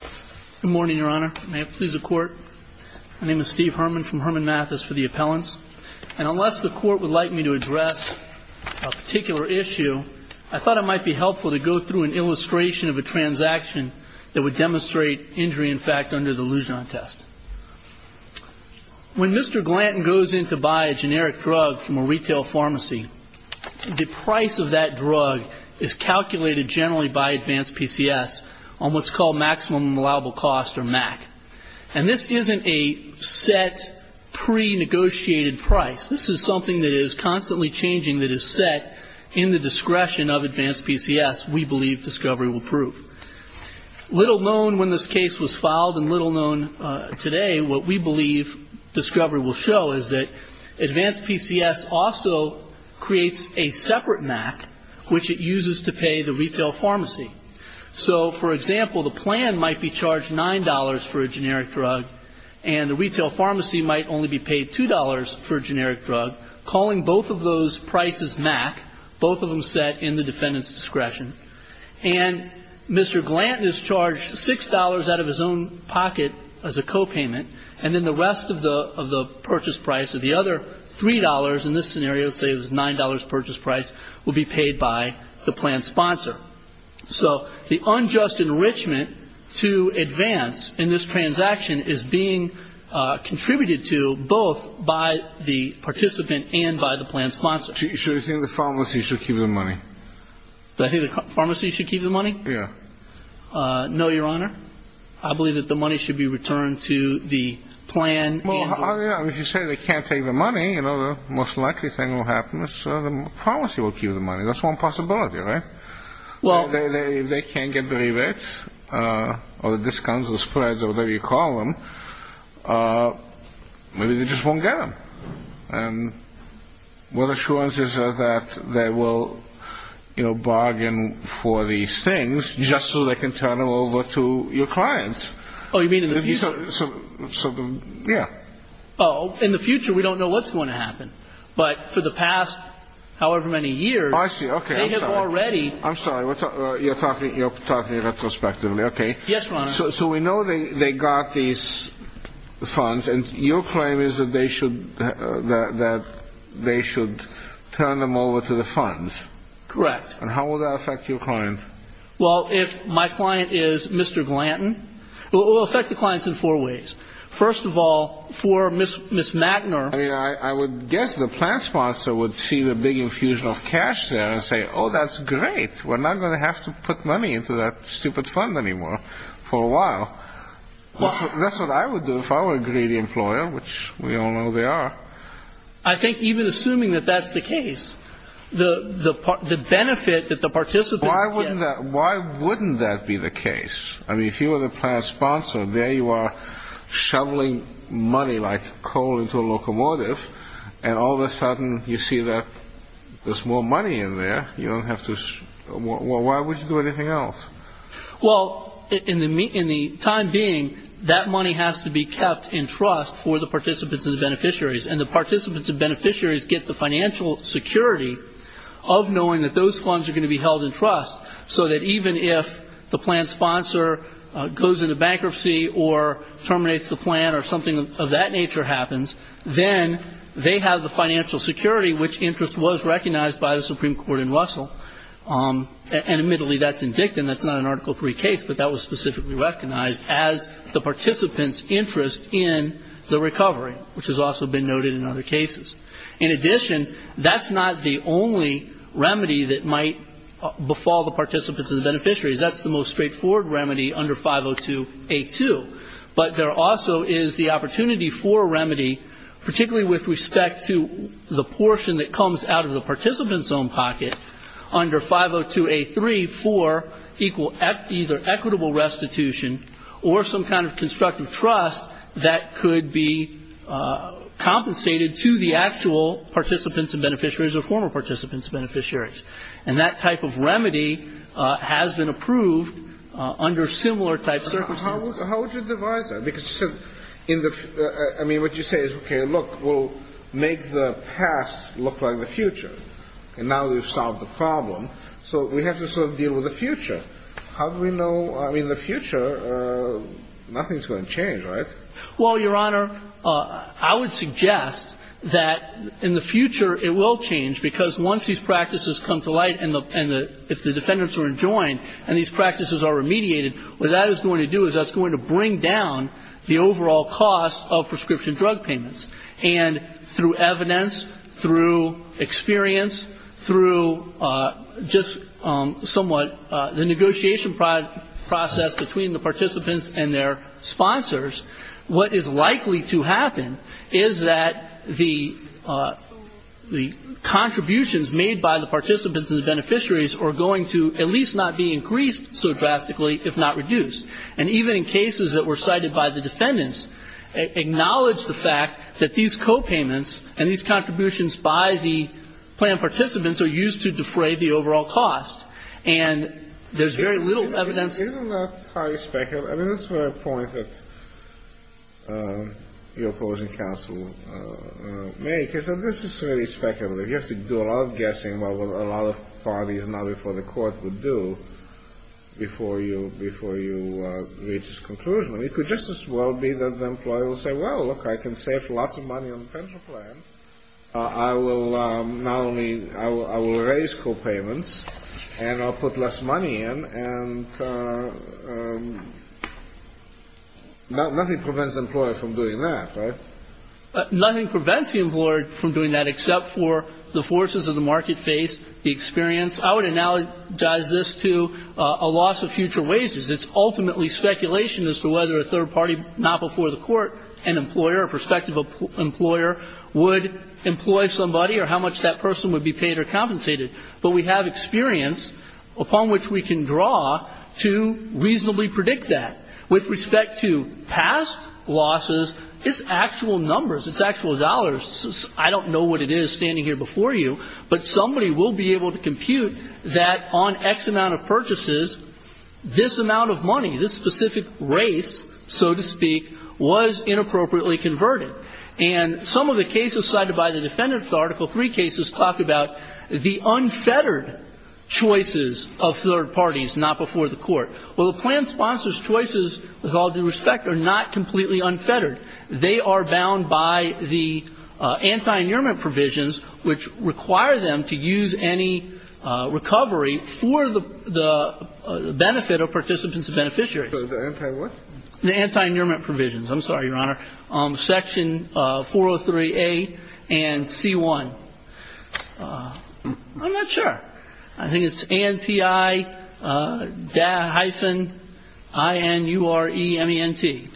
Good morning, Your Honor. May it please the Court? My name is Steve Herman from Herman Mathis for the Appellants. And unless the Court would like me to address a particular issue, I thought it might be helpful to go through an illustration of a transaction that would demonstrate injury in fact under the Lujan test. When Mr. Glanton goes in to buy a generic drug from a retail pharmacy, the price of that drug is calculated generally by Advance PCS on what's called maximum allowable cost or MAC. And this isn't a set pre-negotiated price. This is something that is constantly changing that is set in the discretion of Advance PCS, we believe discovery will prove. Little known when this case was filed and little known today, what we believe discovery will show is that Advance PCS also creates a separate MAC which it uses to pay the retail pharmacy. So, for example, the plan might be charged $9 for a generic drug and the retail pharmacy might only be paid $2 for a generic drug, calling both of those prices MAC, both of them set in the defendant's discretion. And Mr. Glanton is charged $6 out of his own pocket as a copayment and then the rest of the purchase price or the other $3 in this scenario, say it was $9 purchase price, will be paid by the plan sponsor. So the unjust enrichment to Advance in this transaction is being contributed to both by the participant and by the plan sponsor. So you think the pharmacy should keep the money? Do I think the pharmacy should keep the money? Yeah. No, Your Honor. I believe that the money should be returned to the plan. Well, if you say they can't take the money, you know, the most likely thing that will happen is the pharmacy will keep the money. That's one possibility, right? If they can't get the rebates or the discounts or spreads or whatever you call them, maybe they just won't get them. And what assurances are that they will, you know, bargain for these things just so they can turn them over to your clients? Oh, you mean in the future? Yeah. But for the past however many years, they have already. I'm sorry. You're talking retrospectively. Okay. Yes, Your Honor. So we know they got these funds, and your claim is that they should turn them over to the funds. Correct. And how will that affect your client? Well, if my client is Mr. Glanton, it will affect the clients in four ways. First of all, for Ms. Magner. I mean, I would guess the plan sponsor would see the big infusion of cash there and say, oh, that's great. We're not going to have to put money into that stupid fund anymore for a while. That's what I would do if I were a greedy employer, which we all know they are. I think even assuming that that's the case, the benefit that the participants get. Why wouldn't that be the case? I mean, if you were the plan sponsor, there you are shoveling money like coal into a locomotive, and all of a sudden you see that there's more money in there. Why would you do anything else? Well, in the time being, that money has to be kept in trust for the participants and the beneficiaries, and the participants and beneficiaries get the financial security of knowing that those funds are going to be held in trust so that even if the plan sponsor goes into bankruptcy or terminates the plan or something of that nature happens, then they have the financial security, which interest was recognized by the Supreme Court in Russell. And admittedly, that's indicted, and that's not an Article III case, but that was specifically recognized as the participants' interest in the recovery, which has also been noted in other cases. In addition, that's not the only remedy that might befall the participants and the beneficiaries. That's the most straightforward remedy under 502A2. But there also is the opportunity for a remedy, particularly with respect to the portion that comes out of the participant's own pocket, under 502A3 for either equitable restitution or some kind of constructive trust that could be compensated to the actual participants and beneficiaries or former participants and beneficiaries. And that type of remedy has been approved under similar type circumstances. How would you devise that? Because you said in the ‑‑ I mean, what you say is, okay, look, we'll make the past look like the future, and now that we've solved the problem, so we have to sort of deal with the future. How do we know? I mean, in the future, nothing's going to change, right? Well, Your Honor, I would suggest that in the future it will change, because once these practices come to light and if the defendants are enjoined and these practices are remediated, what that is going to do is that's going to bring down the overall cost of prescription drug payments. And through evidence, through experience, through just somewhat the negotiation process between the participants and their sponsors, what is likely to happen is that the contributions made by the participants and the beneficiaries are going to at least not be increased so drastically, if not reduced. And even in cases that were cited by the defendants, acknowledge the fact that these copayments and these contributions by the planned participants are used to defray the overall cost. And there's very little evidence. Isn't that highly speculative? I mean, that's the point that your opposing counsel makes, is that this is really speculative. You have to do a lot of guessing about what a lot of parties now before the court would do before you, before you reach this conclusion. It could just as well be that the employer will say, well, look, I can save lots of money on the pension plan. I will not only, I will raise copayments and I'll put less money in, and nothing prevents the employer from doing that, right? Nothing prevents the employer from doing that except for the forces of the market face, the experience. I would analogize this to a loss of future wages. It's ultimately speculation as to whether a third party now before the court, an employer, a prospective employer would employ somebody or how much that person would be paid or compensated. But we have experience upon which we can draw to reasonably predict that. With respect to past losses, it's actual numbers, it's actual dollars. I don't know what it is standing here before you, but somebody will be able to compute that on X amount of purchases, this amount of money, this specific race, so to speak, was inappropriately converted. And some of the cases cited by the defendants, Article III cases, talk about the unfettered choices of third parties not before the court. Well, the plan sponsor's choices, with all due respect, are not completely unfettered. They are bound by the anti-annulment provisions which require them to use any recovery for the benefit of participants and beneficiaries. The anti-what? The anti-annulment provisions. I'm sorry, Your Honor. Section 403A and C-1. I'm not sure. I think it's ANTI-INUREMENT.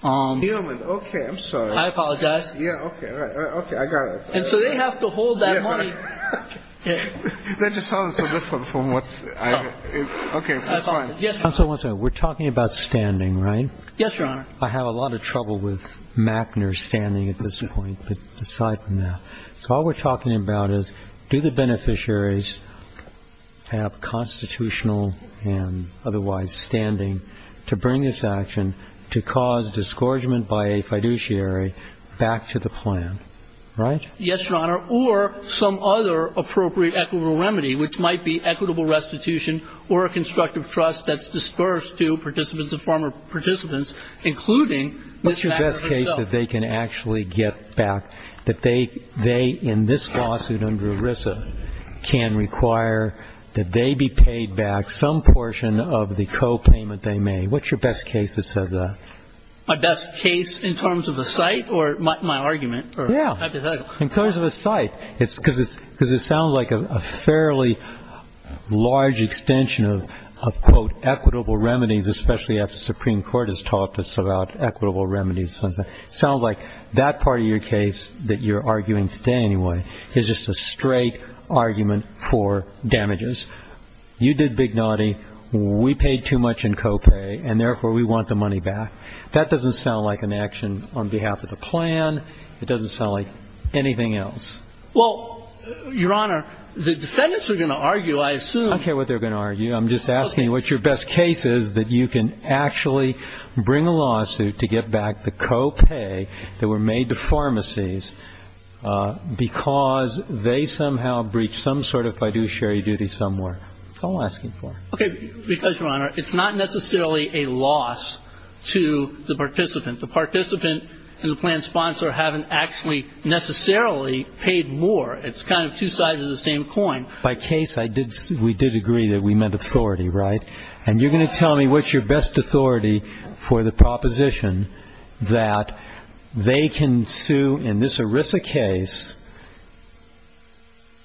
Human. Human. Okay. I'm sorry. I apologize. Yeah, okay. I got it. And so they have to hold that money. That just sounds so different from what I hear. Okay. That's fine. Counsel, one second. We're talking about standing, right? Yes, Your Honor. I have a lot of trouble with Mackner's standing at this point, but aside from that. So all we're talking about is do the beneficiaries have constitutional and otherwise standing to bring this action to cause disgorgement by a fiduciary back to the plan, right? Yes, Your Honor. Or some other appropriate equitable remedy, which might be equitable restitution or a constructive trust that's dispersed to participants and former participants, including Ms. Mackner herself. That means that they can actually get back, that they, in this lawsuit under ERISA, can require that they be paid back some portion of the copayment they made. What's your best case that says that? My best case in terms of the site or my argument? Yeah. In terms of the site. Because it sounds like a fairly large extension of, quote, especially after the Supreme Court has taught us about equitable remedies. It sounds like that part of your case that you're arguing today, anyway, is just a straight argument for damages. You did big naughty. We paid too much in copay, and therefore we want the money back. That doesn't sound like an action on behalf of the plan. It doesn't sound like anything else. Well, Your Honor, the defendants are going to argue, I assume. I don't care what they're going to argue. I'm just asking what your best case is that you can actually bring a lawsuit to get back the copay that were made to pharmacies because they somehow breached some sort of fiduciary duty somewhere. That's all I'm asking for. Okay. Because, Your Honor, it's not necessarily a loss to the participant. The participant and the plan sponsor haven't actually necessarily paid more. It's kind of two sides of the same coin. By case, we did agree that we meant authority, right? And you're going to tell me what's your best authority for the proposition that they can sue in this ERISA case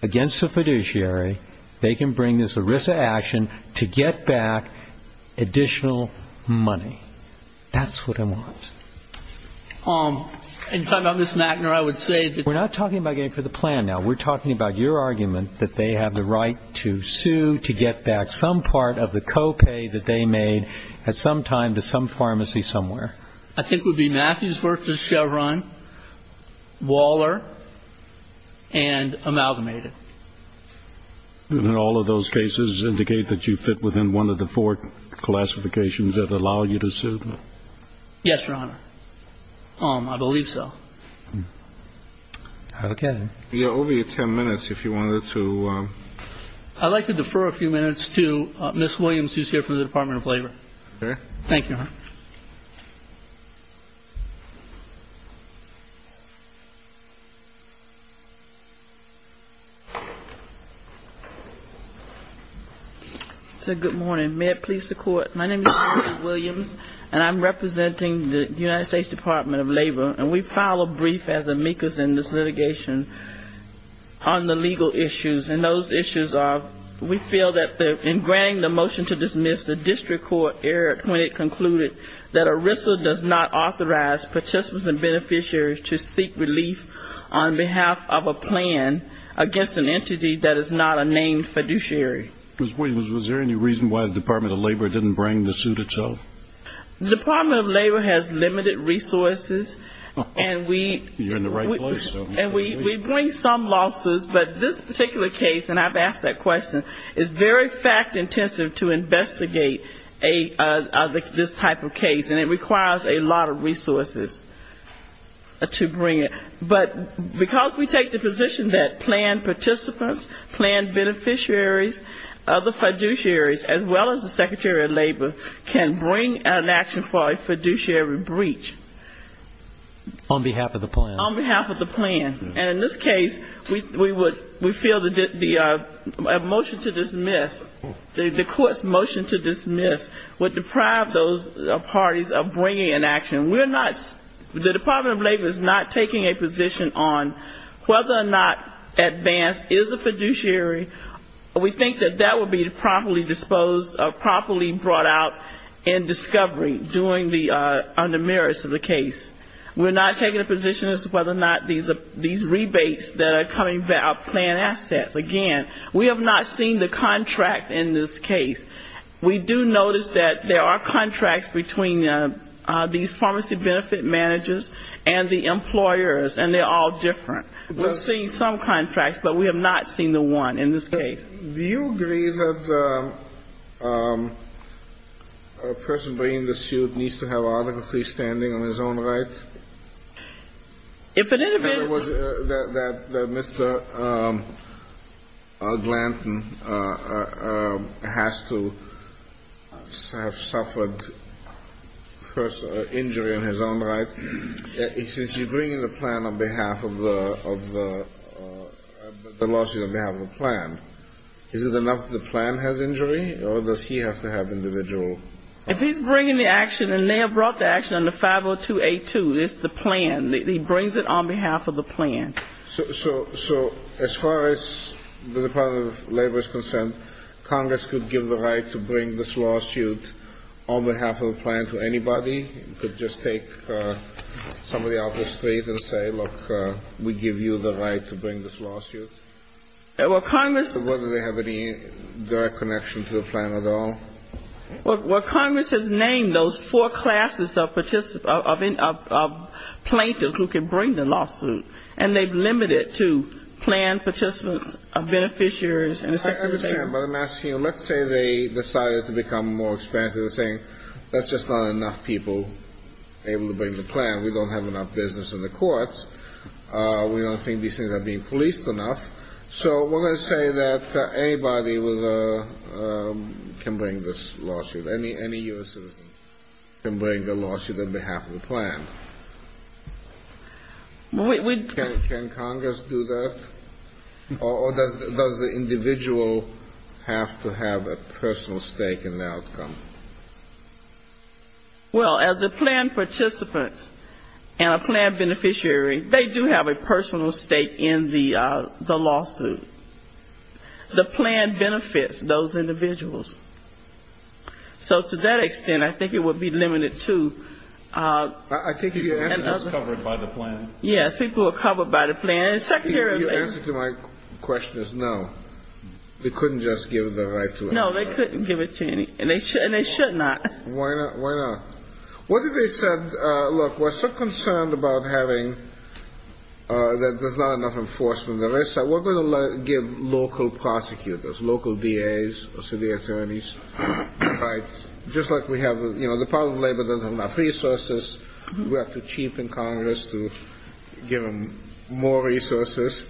against a fiduciary. They can bring this ERISA action to get back additional money. That's what I want. In talking about Ms. McNair, I would say that we're not talking about getting for the plan now. We're talking about your argument that they have the right to sue to get back some part of the copay that they made at some time to some pharmacy somewhere. I think it would be Matthews versus Chevron, Waller, and Amalgamated. And all of those cases indicate that you fit within one of the four classifications that allow you to sue? Yes, Your Honor. I believe so. Okay. Over your ten minutes, if you wanted to. I'd like to defer a few minutes to Ms. Williams, who's here from the Department of Labor. Thank you, Your Honor. Good morning. May it please the Court, my name is Kimberly Williams, and I'm representing the United States Department of Labor. And we file a brief as amicus in this litigation on the legal issues. And those issues are, we feel that in granting the motion to dismiss the district court error when it concluded that ERISA does not authorize participants and beneficiaries to seek relief on behalf of a plan against an entity that is not a named fiduciary. Ms. Williams, was there any reason why the Department of Labor didn't bring the suit itself? The Department of Labor has limited resources, and we bring some losses, but this particular case, and I've asked that question, is very fact-intensive to investigate this type of case, and it requires a lot of resources to bring it. But because we take the position that plan participants, plan beneficiaries, other fiduciaries, as well as the Secretary of Labor, can bring an action for a fiduciary breach. On behalf of the plan. On behalf of the plan. And in this case, we feel that a motion to dismiss, the court's motion to dismiss, would deprive those parties of bringing an action. We're not, the Department of Labor is not taking a position on whether or not advance is a fiduciary. We think that that would be properly disposed of, properly brought out in discovery during the under merits of the case. We're not taking a position as to whether or not these rebates that are coming back are plan assets. Again, we have not seen the contract in this case. We do notice that there are contracts between these pharmacy benefit managers and the employers, and they're all different. We've seen some contracts, but we have not seen the one in this case. Do you agree that a person bringing the suit needs to have autocracy standing on his own right? If it is a bit. That Mr. Glanton has to have suffered injury on his own right. Since he's bringing the plan on behalf of the, the lawsuit on behalf of the plan, is it enough that the plan has injury, or does he have to have individual? If he's bringing the action, and they have brought the action under 50282, it's the plan, he brings it on behalf of the plan. So as far as the Department of Labor is concerned, Congress could give the right to bring this lawsuit on behalf of the plan to anybody? It could just take somebody off the street and say, look, we give you the right to bring this lawsuit? Whether they have any direct connection to the plan at all? Well, Congress has named those four classes of plaintiffs who can bring the lawsuit, and they've limited to plan participants, beneficiaries, and the secretary. I understand, but I'm asking you, let's say they decided to become more expensive and saying, that's just not enough people. Able to bring the plan, we don't have enough business in the courts, we don't think these things are being policed enough. So we're going to say that anybody can bring this lawsuit, any U.S. citizen can bring a lawsuit on behalf of the plan. Can Congress do that? Or does the individual have to have a personal stake in the outcome? Well, as a plan participant and a plan beneficiary, they do have a personal stake in the lawsuit. The plan benefits those individuals. So to that extent, I think it would be limited to... I think people are covered by the plan. Yes, people are covered by the plan. The answer to my question is no. They couldn't just give the right to it. No, they couldn't give it to any... and they should not. Why not? Why not? What if they said, look, we're so concerned about having... that there's not enough enforcement. We're going to give local prosecutors, local DAs, city attorneys, just like we have... the Department of Labor doesn't have enough resources. We have to cheapen Congress to give them more resources.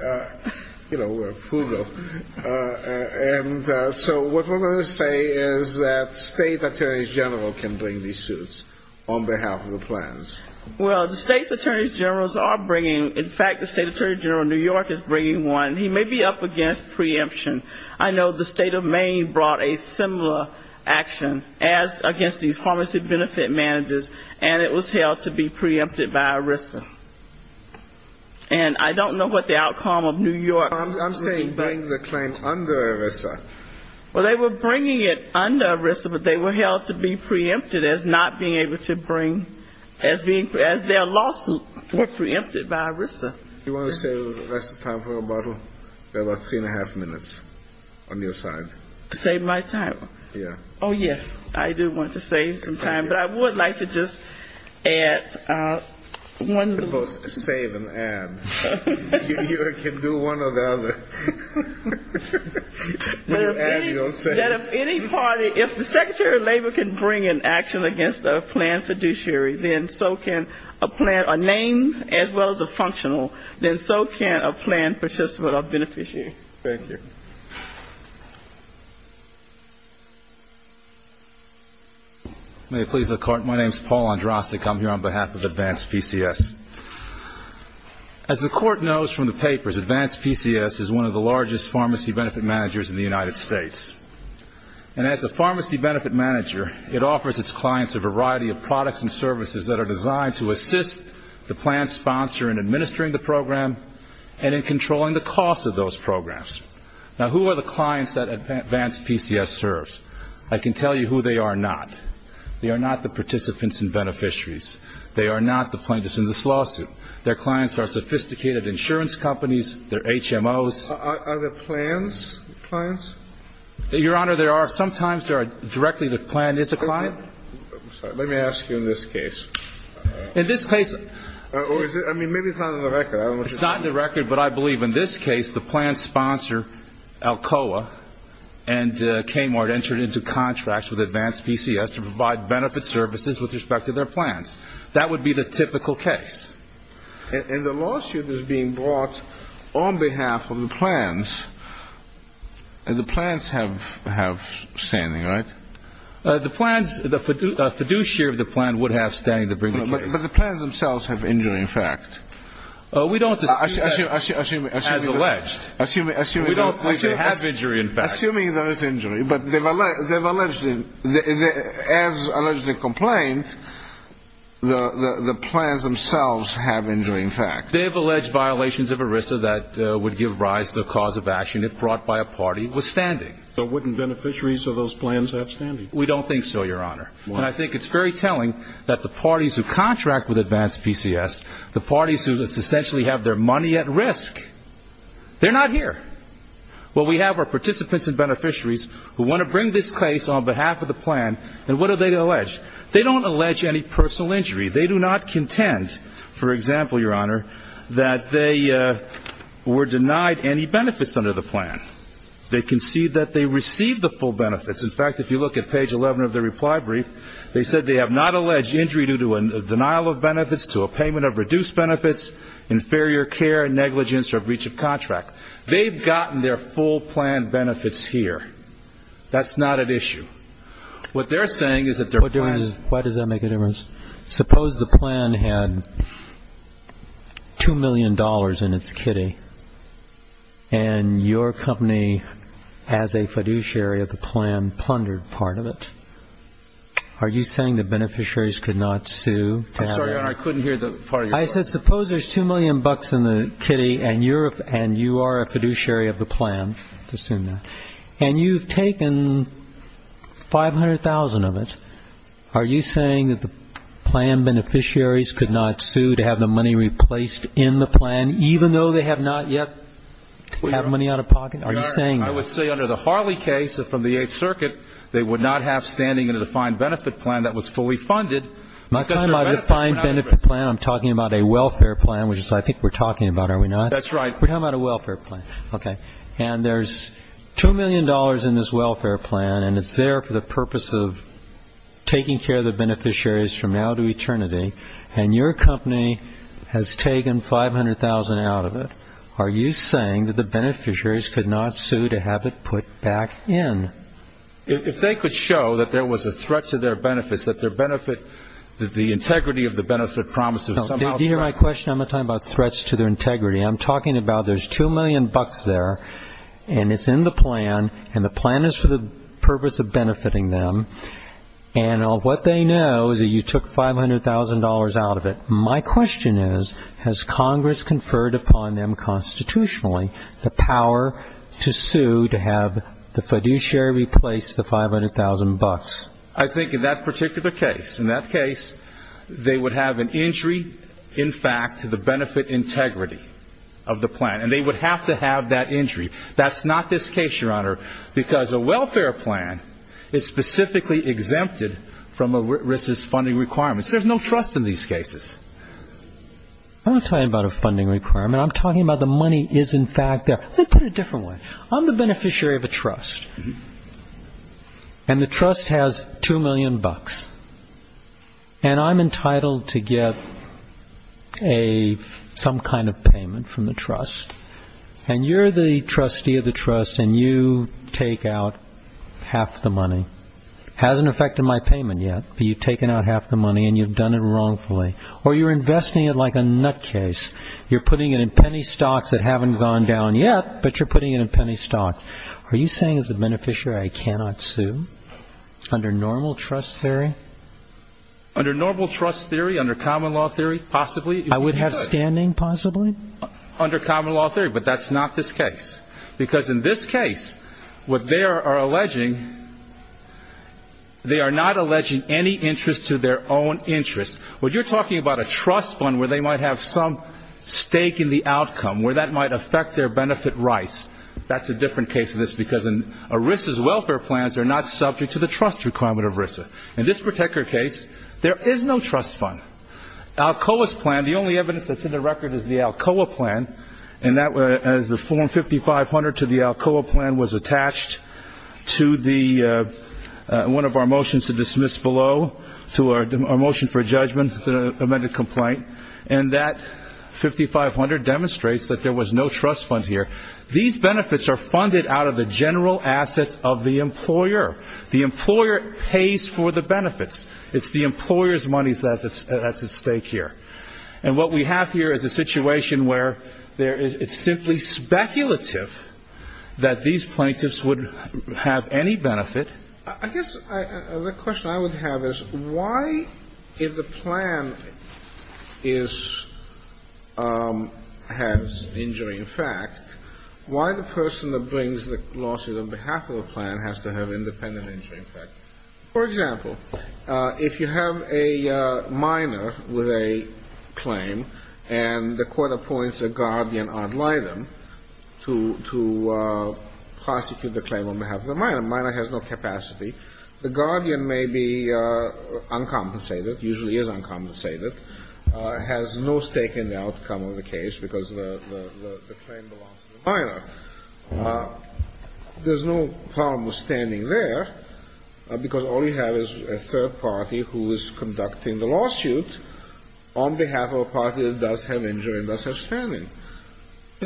And so what we're going to say is that state attorneys general can bring these suits on behalf of the plans. Well, the state's attorneys generals are bringing... in fact, the state attorney general in New York is bringing one. He may be up against preemption. I know the state of Maine brought a similar action as against these pharmacy benefit managers, and it was held to be preempted by ERISA. And I don't know what the outcome of New York... I'm saying bring the claim under ERISA. Well, they were bringing it under ERISA, but they were held to be preempted as not being able to bring... as being... as their lawsuits were preempted by ERISA. Do you want to save the rest of the time for a bottle? We have about three and a half minutes on your side. Save my time? Yeah. Oh, yes, I do want to save some time, but I would like to just add one little... You can both save and add. You can do one or the other. When you add, you don't save. That if any party... if the secretary of labor can bring an action against a plan fiduciary, then so can a plan... a name as well as a functional, then so can a plan participant or beneficiary. Thank you. May it please the Court, my name is Paul Andrasik. I'm here on behalf of Advanced PCS. As the Court knows from the papers, Advanced PCS is one of the largest pharmacy benefit managers in the United States. And as a pharmacy benefit manager, it offers its clients a variety of products and services that are designed to assist the plan sponsor in administering the program and in controlling the cost of those programs. Now, who are the clients that Advanced PCS serves? I can tell you who they are not. They are not the participants and beneficiaries. They are not the plaintiffs in this lawsuit. Their clients are sophisticated insurance companies. They're HMOs. Are there plans clients? Your Honor, there are. Sometimes there are directly the plan is a client. Let me ask you in this case. In this case... I mean, maybe it's not in the record. It's not in the record, but I believe in this case the plan sponsor, Alcoa and Kmart, entered into contracts with Advanced PCS to provide benefit services with respect to their plans. That would be the typical case. In the lawsuit that's being brought on behalf of the plans, the plans have standing, right? The plans, the fiduciary of the plan would have standing to bring the case. But the plans themselves have injury, in fact. We don't... As alleged. Assuming there is injury, but they've alleged it. As allegedly complained, the plans themselves have injury, in fact. They have alleged violations of ERISA that would give rise to the cause of action if brought by a party with standing. So wouldn't beneficiaries of those plans have standing? We don't think so, Your Honor. And I think it's very telling that the parties who contract with Advanced PCS, the parties who essentially have their money at risk, they're not here. What we have are participants and beneficiaries who want to bring this case on behalf of the plan, and what do they allege? They don't allege any personal injury. They do not contend, for example, Your Honor, that they were denied any benefits under the plan. They concede that they received the full benefits. In fact, if you look at page 11 of the reply brief, they said they have not alleged injury due to a denial of benefits, to a payment of reduced benefits, inferior care, negligence, or breach of contract. They've gotten their full plan benefits here. That's not at issue. What they're saying is that their plans... Why does that make a difference? Suppose the plan had $2 million in its kitty, and your company as a fiduciary of the plan plundered part of it. Are you saying the beneficiaries could not sue? I'm sorry, Your Honor, I couldn't hear the part of your question. I said suppose there's $2 million in the kitty, and you are a fiduciary of the plan. Let's assume that. And you've taken $500,000 of it. Are you saying that the plan beneficiaries could not sue to have the money replaced in the plan, even though they have not yet had money out of pocket? Are you saying that? Your Honor, I would say under the Harley case from the Eighth Circuit, they would not have standing in a defined benefit plan that was fully funded. I'm not talking about a defined benefit plan. I'm talking about a welfare plan, which I think we're talking about, are we not? That's right. We're talking about a welfare plan. Okay. And there's $2 million in this welfare plan, and it's there for the purpose of taking care of the beneficiaries from now to eternity. And your company has taken $500,000 out of it. Are you saying that the beneficiaries could not sue to have it put back in? If they could show that there was a threat to their benefits, that their benefit, that the integrity of the benefit promise is somehow threatened. Did you hear my question? I'm not talking about threats to their integrity. I'm talking about there's $2 million there, and it's in the plan, and the plan is for the purpose of benefiting them. And what they know is that you took $500,000 out of it. My question is, has Congress conferred upon them constitutionally the power to sue to have the fiduciary replace the $500,000? I think in that particular case, in that case, they would have an injury, in fact, to the benefit integrity of the plan, and they would have to have that injury. That's not this case, Your Honor, because a welfare plan is specifically exempted from ERISA's funding requirements. There's no trust in these cases. I'm not talking about a funding requirement. I'm talking about the money is, in fact, there. Let me put it a different way. I'm the beneficiary of a trust, and the trust has $2 million. And I'm entitled to get some kind of payment from the trust, and you're the trustee of the trust, and you take out half the money. It hasn't affected my payment yet, but you've taken out half the money, and you've done it wrongfully. Or you're investing it like a nutcase. You're putting it in penny stocks that haven't gone down yet, but you're putting it in penny stocks. Are you saying as a beneficiary I cannot sue under normal trust theory? Under normal trust theory, under common law theory, possibly. I would have standing, possibly. Under common law theory, but that's not this case. Because in this case, what they are alleging, they are not alleging any interest to their own interest. When you're talking about a trust fund where they might have some stake in the outcome, where that might affect their benefit rights, that's a different case than this, because in ERISA's welfare plans, they're not subject to the trust requirement of ERISA. In this particular case, there is no trust fund. Alcoa's plan, the only evidence that's in the record is the Alcoa plan, and as the form 5500 to the Alcoa plan was attached to one of our motions to dismiss below, to our motion for judgment, the amended complaint, and that 5500 demonstrates that there was no trust fund here. These benefits are funded out of the general assets of the employer. The employer pays for the benefits. It's the employer's money that's at stake here. And what we have here is a situation where it's simply speculative that these plaintiffs would have any benefit. I guess the question I would have is why, if the plan is, has injuring effect, why the person that brings the lawsuit on behalf of the plan has to have independent injuring effect? For example, if you have a minor with a claim and the court appoints a guardian ad litem to prosecute the claim on behalf of the minor, and the minor has no capacity, the guardian may be uncompensated, usually is uncompensated, has no stake in the outcome of the case because the claim belongs to the minor. There's no problem with standing there because all you have is a third party who is conducting the lawsuit on behalf of a party that does have injury and does have standing.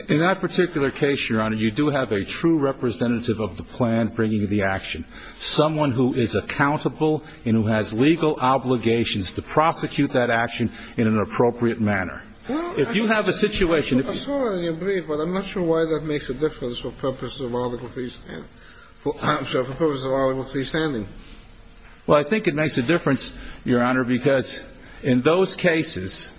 In that particular case, Your Honor, you do have a true representative of the plan bringing the action, someone who is accountable and who has legal obligations to prosecute that action in an appropriate manner. If you have a situation... I'm sorry to be brief, but I'm not sure why that makes a difference for purposes of Article III standing. Well, I think it makes a difference, Your Honor, because in those cases,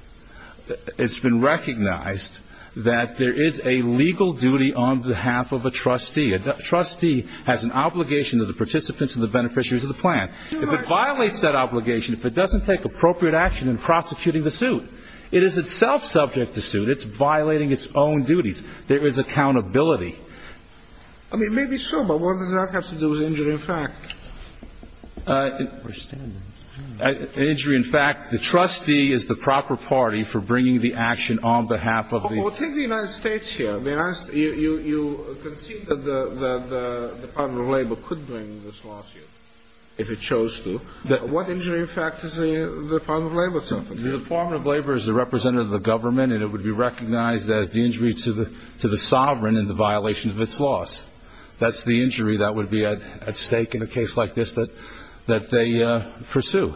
it's been recognized that there is a legal duty on behalf of a trustee. A trustee has an obligation to the participants and the beneficiaries of the plan. If it violates that obligation, if it doesn't take appropriate action in prosecuting the suit, it is itself subject to suit. It's violating its own duties. There is accountability. I mean, maybe so, but what does that have to do with injury in fact? Injury in fact, the trustee is the proper party for bringing the action on behalf of the... Well, take the United States here. You concede that the Department of Labor could bring this lawsuit if it chose to. What injury in fact is the Department of Labor subject to? The Department of Labor is the representative of the government, and it would be recognized as the injury to the sovereign in the violation of its laws. That's the injury that would be at stake in a case like this that they pursue.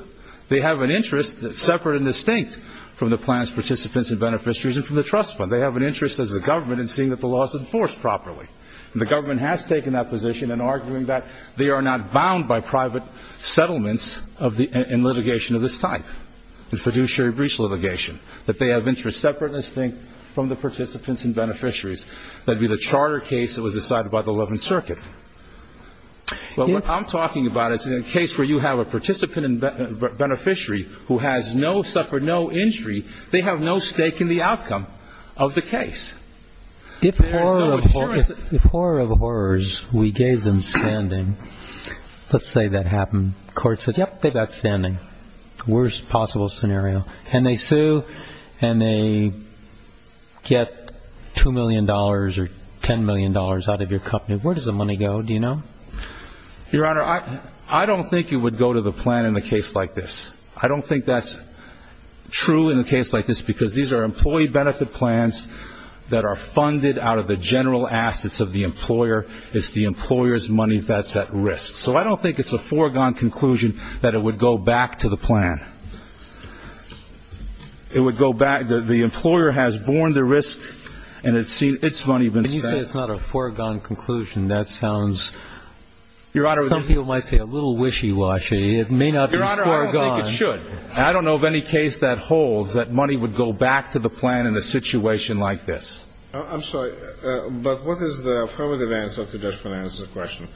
They have an interest that's separate and distinct from the plan's participants and beneficiaries and from the trust fund. They have an interest as a government in seeing that the law is enforced properly, and the government has taken that position in arguing that they are not bound by private settlements and litigation of this type, the fiduciary breach litigation, that they have interest separate and distinct from the participants and beneficiaries. That would be the charter case that was decided by the Eleventh Circuit. Well, what I'm talking about is in a case where you have a participant and beneficiary who has no, suffered no injury, they have no stake in the outcome of the case. If horror of horrors, we gave them standing, let's say that happened, the court says, yep, they've got standing. Worst possible scenario. And they sue, and they get $2 million or $10 million out of your company. Where does the money go, do you know? Your Honor, I don't think it would go to the plan in a case like this. I don't think that's true in a case like this because these are employee benefit plans that are funded out of the general assets of the employer. It's the employer's money that's at risk. So I don't think it's a foregone conclusion that it would go back to the plan. It would go back. The employer has borne the risk, and it's money been spent. When you say it's not a foregone conclusion, that sounds, some people might say, a little wishy-washy. It may not be foregone. Your Honor, I don't think it should. I don't know of any case that holds that money would go back to the plan in a situation like this. I'm sorry, but what is the affirmative answer to Judge Finan's question?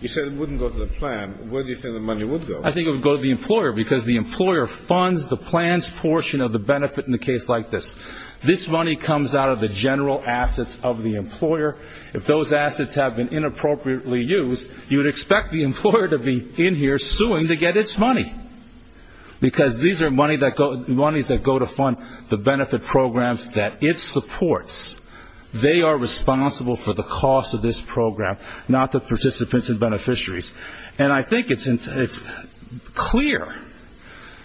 You said it wouldn't go to the plan. Where do you think the money would go? I think it would go to the employer because the employer funds the plans portion of the benefit in a case like this. This money comes out of the general assets of the employer. If those assets have been inappropriately used, you would expect the employer to be in here suing to get its money because these are monies that go to fund the benefit programs that it supports. They are responsible for the cost of this program, not the participants and beneficiaries. And I think it's clear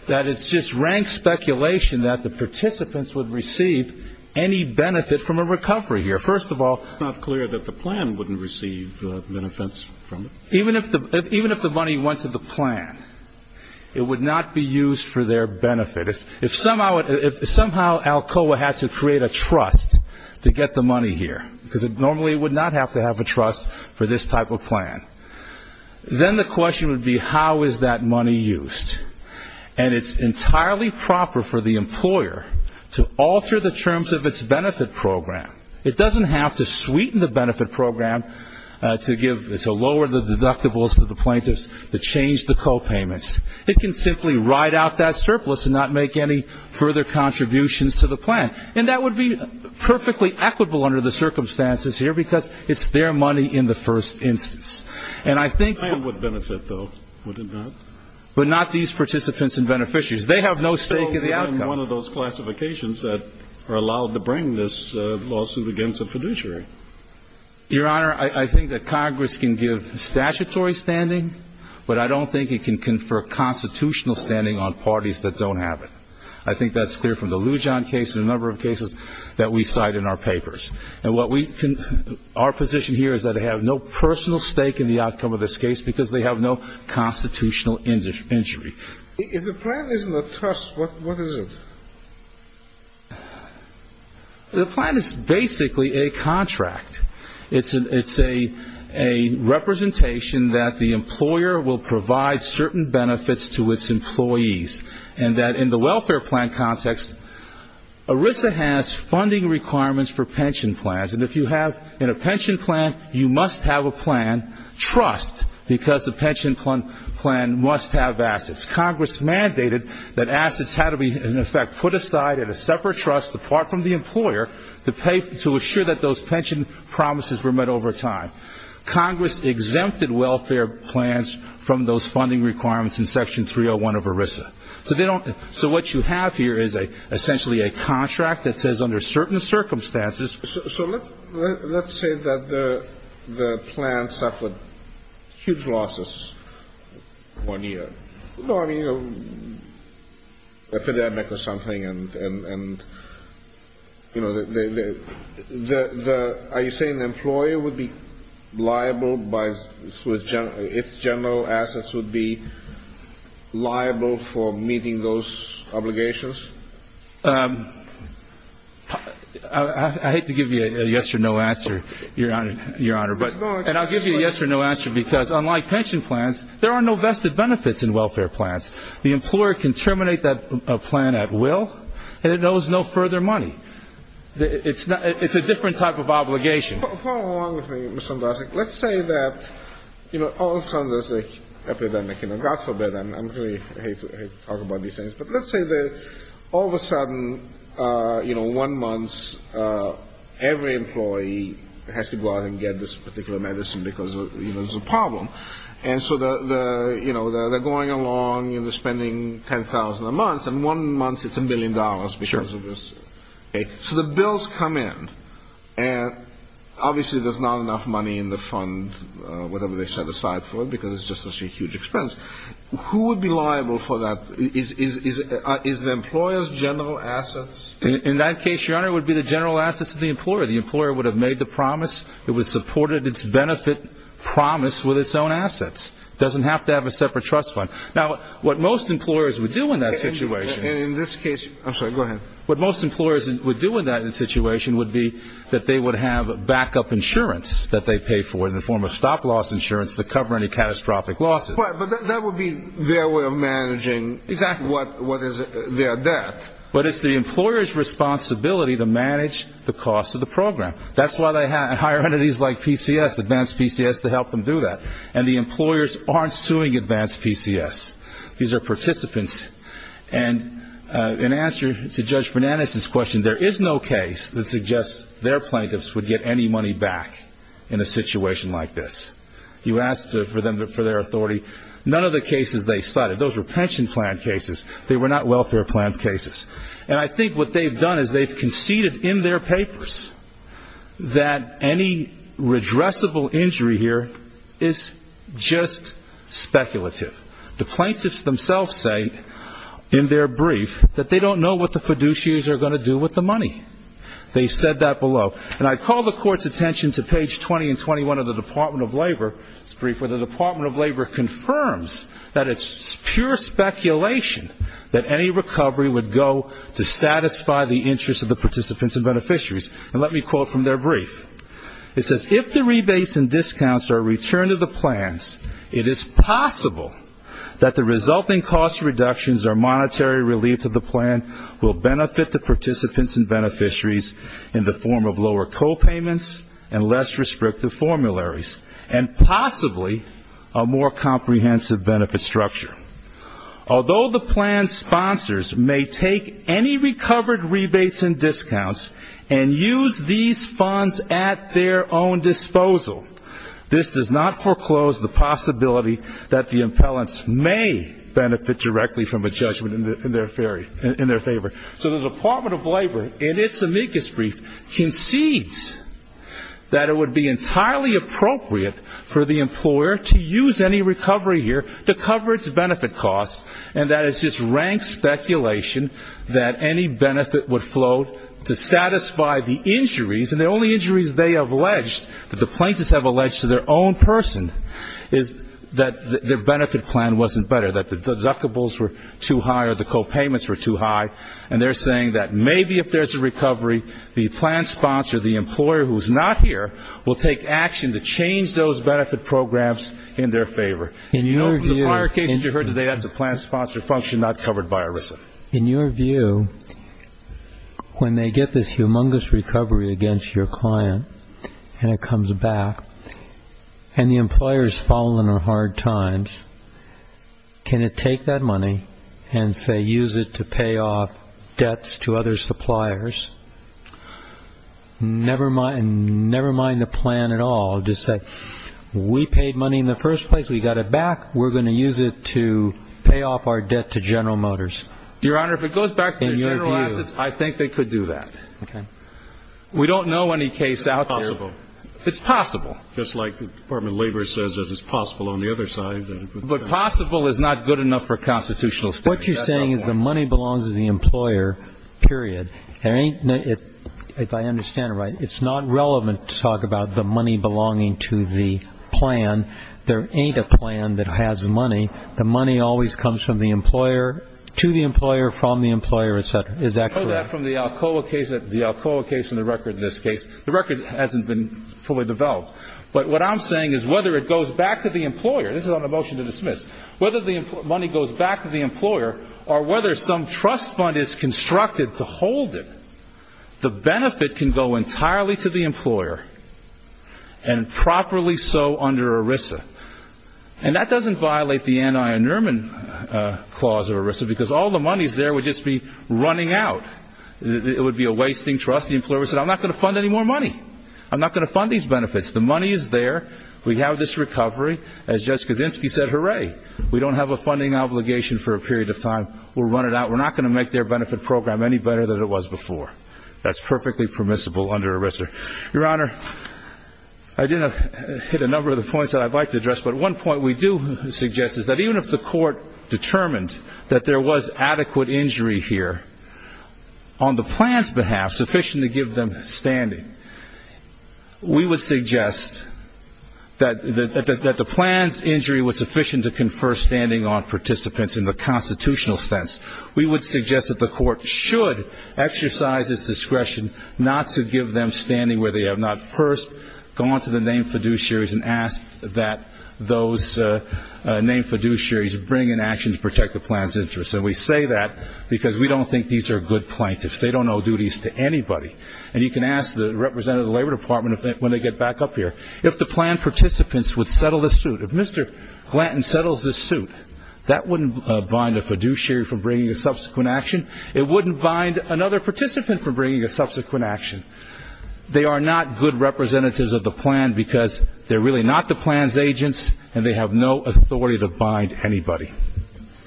that it's just rank speculation that the participants would receive any benefit from a recovery here. First of all, it's not clear that the plan wouldn't receive benefits from it. Even if the money went to the plan, it would not be used for their benefit. If somehow Alcoa had to create a trust to get the money here, because it normally would not have to have a trust for this type of plan, then the question would be how is that money used. And it's entirely proper for the employer to alter the terms of its benefit program. It doesn't have to sweeten the benefit program to lower the deductibles for the plaintiffs to change the copayments. It can simply ride out that surplus and not make any further contributions to the plan. And that would be perfectly equitable under the circumstances here because it's their money in the first instance. And I think the plan would benefit, though, would it not? But not these participants and beneficiaries. They have no stake in the outcome. So they're in one of those classifications that are allowed to bring this lawsuit against a fiduciary. Your Honor, I think that Congress can give statutory standing, but I don't think it can confer constitutional standing on parties that don't have it. I think that's clear from the Lujan case and a number of cases that we cite in our papers. And what we can – our position here is that they have no personal stake in the outcome of this case because they have no constitutional injury. If the plan isn't a trust, what is it? The plan is basically a contract. It's a representation that the employer will provide certain benefits to its employees and that in the welfare plan context, ERISA has funding requirements for pension plans. And if you have a pension plan, you must have a plan, trust, because the pension plan must have assets. Congress mandated that assets had to be, in effect, put aside at a separate trust apart from the employer to pay – to assure that those pension promises were met over time. Congress exempted welfare plans from those funding requirements in Section 301 of ERISA. So they don't – so what you have here is essentially a contract that says under certain circumstances – So let's say that the plan suffered huge losses one year. No, I mean epidemic or something. And, you know, are you saying the employer would be liable by – its general assets would be liable for meeting those obligations? I hate to give you a yes or no answer, Your Honor. And I'll give you a yes or no answer because unlike pension plans, there are no vested benefits in welfare plans. The employer can terminate that plan at will, and it owes no further money. It's a different type of obligation. Follow along with me, Mr. Andrasik. Let's say that, you know, all of a sudden there's an epidemic. You know, God forbid, and I really hate to talk about these things, but let's say that all of a sudden, you know, one month, every employee has to go out and get this particular medicine because, you know, there's a problem. And so, you know, they're going along and they're spending $10,000 a month, and one month it's a million dollars because of this. So the bills come in, and obviously there's not enough money in the fund, whatever they set aside for it, because it's just such a huge expense. Who would be liable for that? Is the employer's general assets? In that case, Your Honor, it would be the general assets of the employer. The employer would have made the promise. It would have supported its benefit promise with its own assets. It doesn't have to have a separate trust fund. Now, what most employers would do in that situation. And in this case, I'm sorry, go ahead. What most employers would do in that situation would be that they would have backup insurance that they pay for in the form of stop-loss insurance to cover any catastrophic losses. But that would be their way of managing what is their debt. But it's the employer's responsibility to manage the cost of the program. That's why they hire entities like PCS, Advanced PCS, to help them do that. And the employers aren't suing Advanced PCS. These are participants. And in answer to Judge Bernanase's question, there is no case that suggests their plaintiffs would get any money back in a situation like this. You asked for their authority. None of the cases they cited, those were pension plan cases. They were not welfare plan cases. And I think what they've done is they've conceded in their papers that any redressable injury here is just speculative. The plaintiffs themselves say in their brief that they don't know what the fiduciaries are going to do with the money. They said that below. And I call the Court's attention to page 20 and 21 of the Department of Labor's brief, where the Department of Labor confirms that it's pure speculation that any recovery would go to satisfy the interests of the participants and beneficiaries. And let me quote from their brief. It says, if the rebates and discounts are returned to the plans, it is possible that the resulting cost reductions or monetary relief to the plan will benefit the participants and beneficiaries in the form of lower copayments and less restrictive formularies, and possibly a more comprehensive benefit structure. Although the plan's sponsors may take any recovered rebates and discounts and use these funds at their own disposal, this does not foreclose the possibility that the impellents may benefit directly from a judgment in their favor. So the Department of Labor, in its amicus brief, concedes that it would be entirely appropriate for the employer to use any recovery here to cover its benefit costs, and that it's just rank speculation that any benefit would flow to satisfy the injuries, and the only injuries they have alleged, that the plaintiffs have alleged to their own person, is that their benefit plan wasn't better, that the deductibles were too high or the copayments were too high, and they're saying that maybe if there's a recovery, the plan sponsor, the employer who's not here, will take action to change those benefit programs in their favor. In the prior cases you heard today, that's a plan sponsor function not covered by ERISA. In your view, when they get this humongous recovery against your client and it comes back, and the employer has fallen on hard times, can it take that money and, say, use it to pay off debts to other suppliers, never mind the plan at all, just say, we paid money in the first place, we got it back, we're going to use it to pay off our debt to General Motors? Your Honor, if it goes back to their general assets, I think they could do that. Okay. We don't know any case out there. It's possible. It's possible. Just like the Department of Labor says that it's possible on the other side. But possible is not good enough for constitutional standards. What you're saying is the money belongs to the employer, period. If I understand it right, it's not relevant to talk about the money belonging to the plan. There ain't a plan that has money. The money always comes from the employer, to the employer, from the employer, et cetera. Is that correct? I know that from the Alcoa case and the record in this case. The record hasn't been fully developed. But what I'm saying is whether it goes back to the employer, this is on a motion to dismiss, whether the money goes back to the employer or whether some trust fund is constructed to hold it, the benefit can go entirely to the employer and properly so under ERISA. And that doesn't violate the Anion-Nerman clause of ERISA because all the money is there would just be running out. It would be a wasting trust. The employer would say, I'm not going to fund any more money. I'm not going to fund these benefits. The money is there. We have this recovery. As Justice Kaczynski said, hooray, we don't have a funding obligation for a period of time. We'll run it out. We're not going to make their benefit program any better than it was before. That's perfectly permissible under ERISA. Your Honor, I did hit a number of the points that I'd like to address, but one point we do suggest is that even if the court determined that there was adequate injury here, on the plan's behalf, sufficient to give them standing, we would suggest that the plan's injury was sufficient to confer standing on participants in the constitutional sense. We would suggest that the court should exercise its discretion not to give them standing where they have not. First, go on to the named fiduciaries and ask that those named fiduciaries bring an action to protect the plan's interest. And we say that because we don't think these are good plaintiffs. They don't owe duties to anybody. And you can ask the representative of the Labor Department when they get back up here. If the plan participants would settle this suit, if Mr. Glanton settles this suit, that wouldn't bind a fiduciary from bringing a subsequent action. It wouldn't bind another participant from bringing a subsequent action. They are not good representatives of the plan because they're really not the plan's agents, and they have no authority to bind anybody.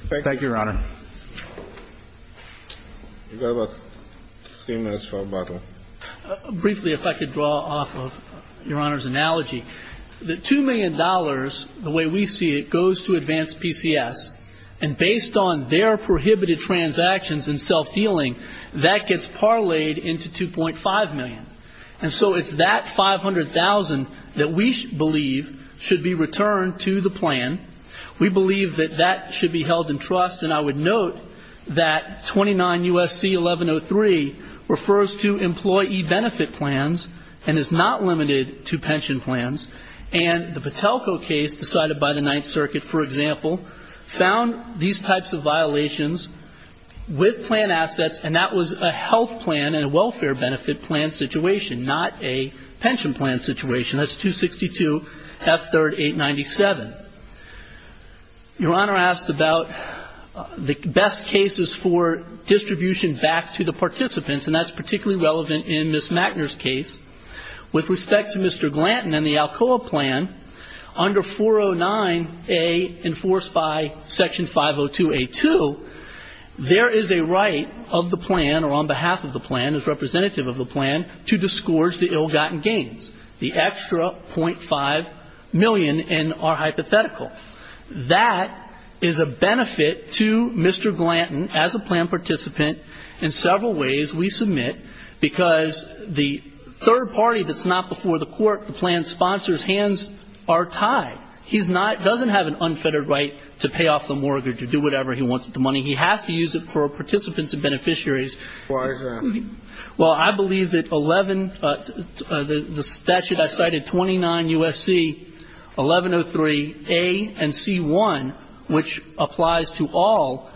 Thank you, Your Honor. You've got about three minutes for a bottle. Briefly, if I could draw off of Your Honor's analogy. The $2 million, the way we see it, goes to Advanced PCS. And based on their prohibited transactions and self-dealing, that gets parlayed into $2.5 million. And so it's that $500,000 that we believe should be returned to the plan. We believe that that should be held in trust, and I would note that 29 U.S.C. 1103 refers to employee benefit plans and is not limited to pension plans. And the Patelco case decided by the Ninth Circuit, for example, found these types of violations with plan assets, and that was a health plan and a welfare benefit plan situation, not a pension plan situation. That's 262 F. 3rd, 897. Your Honor asked about the best cases for distribution back to the participants, and that's particularly relevant in Ms. Mackner's case. With respect to Mr. Glanton and the Alcoa plan, under 409A enforced by Section 502A2, there is a right of the plan or on behalf of the plan, as representative of the plan, to disgorge the ill-gotten gains, the extra .5 million in our hypothetical. That is a benefit to Mr. Glanton as a plan participant in several ways we submit because the third party that's not before the court, the plan sponsor's hands are tied. He doesn't have an unfettered right to pay off the mortgage or do whatever he wants with the money. He has to use it for participants and beneficiaries. Why is that? Well, I believe that 11, the statute I cited, 29 U.S.C. 1103A and C.1, which applies to all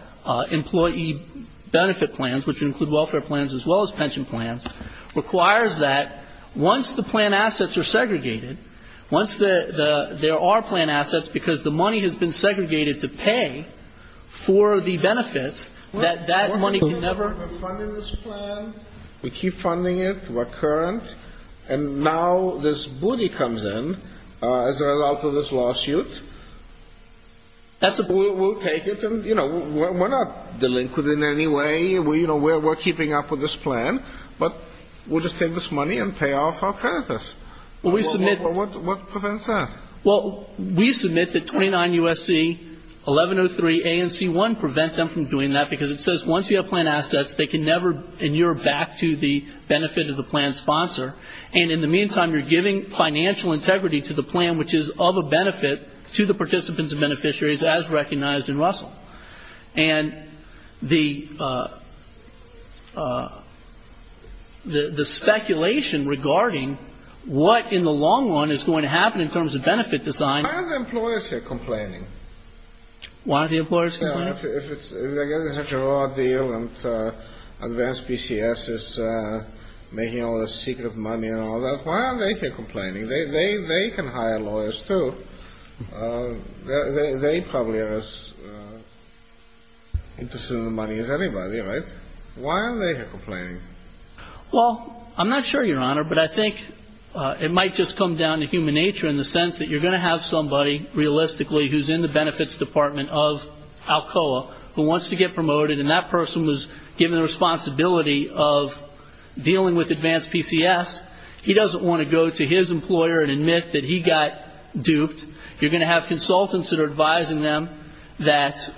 employee benefit plans, which include welfare plans as well as pension plans, requires that once the plan assets are segregated, once there are plan assets, because the money has been segregated to pay for the benefits, that that money can never be refunded in this plan. We keep funding it recurrent. And now this booty comes in as a result of this lawsuit. That's a booty. We'll take it. And, you know, we're not delinquent in any way. You know, we're keeping up with this plan. But we'll just take this money and pay off our creditors. What prevents that? Well, we submit that 29 U.S.C. 1103A and C.1 prevent them from doing that because it says once you have plan assets, they can never inure back to the benefit of the plan sponsor. And in the meantime, you're giving financial integrity to the plan, which is of a benefit to the participants and beneficiaries as recognized in Russell. And the speculation regarding what in the long run is going to happen in terms of benefit design. Why are the employers here complaining? Why are the employers here complaining? If it's such a raw deal and advanced PCS is making all this secret money and all that, why are they here complaining? They can hire lawyers, too. They probably are as interested in the money as anybody, right? Why are they here complaining? Well, I'm not sure, Your Honor, but I think it might just come down to human nature in the sense that you're going to have somebody, realistically, who's in the benefits department of Alcoa who wants to get promoted, and that person was given the responsibility of dealing with advanced PCS. He doesn't want to go to his employer and admit that he got duped. You're going to have consultants that are advising them that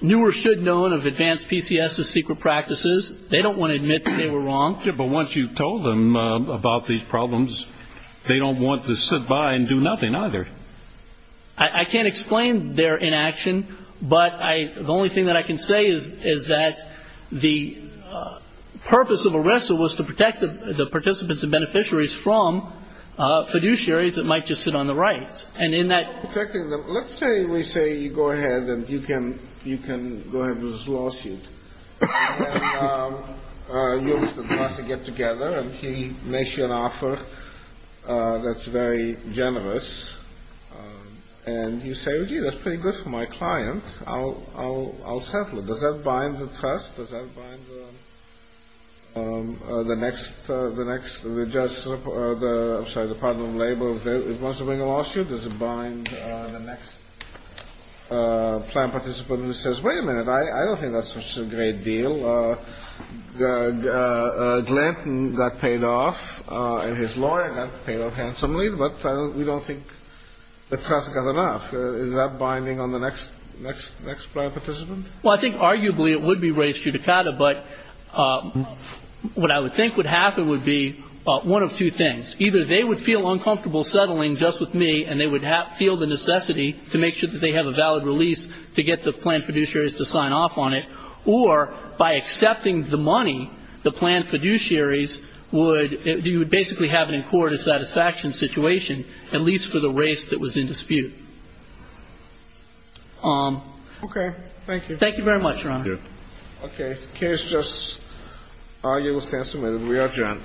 knew or should have known of advanced PCS's secret practices. They don't want to admit that they were wrong. Yeah, but once you've told them about these problems, they don't want to sit by and do nothing either. I can't explain their inaction, but the only thing that I can say is that the purpose of arrest was to protect the participants and beneficiaries from fiduciaries that might just sit on the rights. Let's say we say you go ahead and you can go ahead with this lawsuit. You go with the class to get together, and he makes you an offer that's very generous, and you say, oh, gee, that's pretty good for my client. I'll settle it. Does that bind the trust? Does that bind the next, the next, the judge, I'm sorry, the partner in labor? Once they bring a lawsuit, does it bind the next plan participant who says, wait a minute, I don't think that's such a great deal. Glanton got paid off, and his lawyer got paid off handsomely, but we don't think the trust got enough. Is that binding on the next, next, next plan participant? Well, I think arguably it would be raised judicata, but what I would think would happen would be one of two things. Either they would feel uncomfortable settling just with me, and they would feel the necessity to make sure that they have a valid release to get the plan fiduciaries to sign off on it, or by accepting the money, the plan fiduciaries would basically have it in court a satisfaction situation, at least for the race that was in dispute. Okay. Thank you. Thank you very much, Your Honor. Thank you. Okay. Case just argued. We stand submitted. We are adjourned.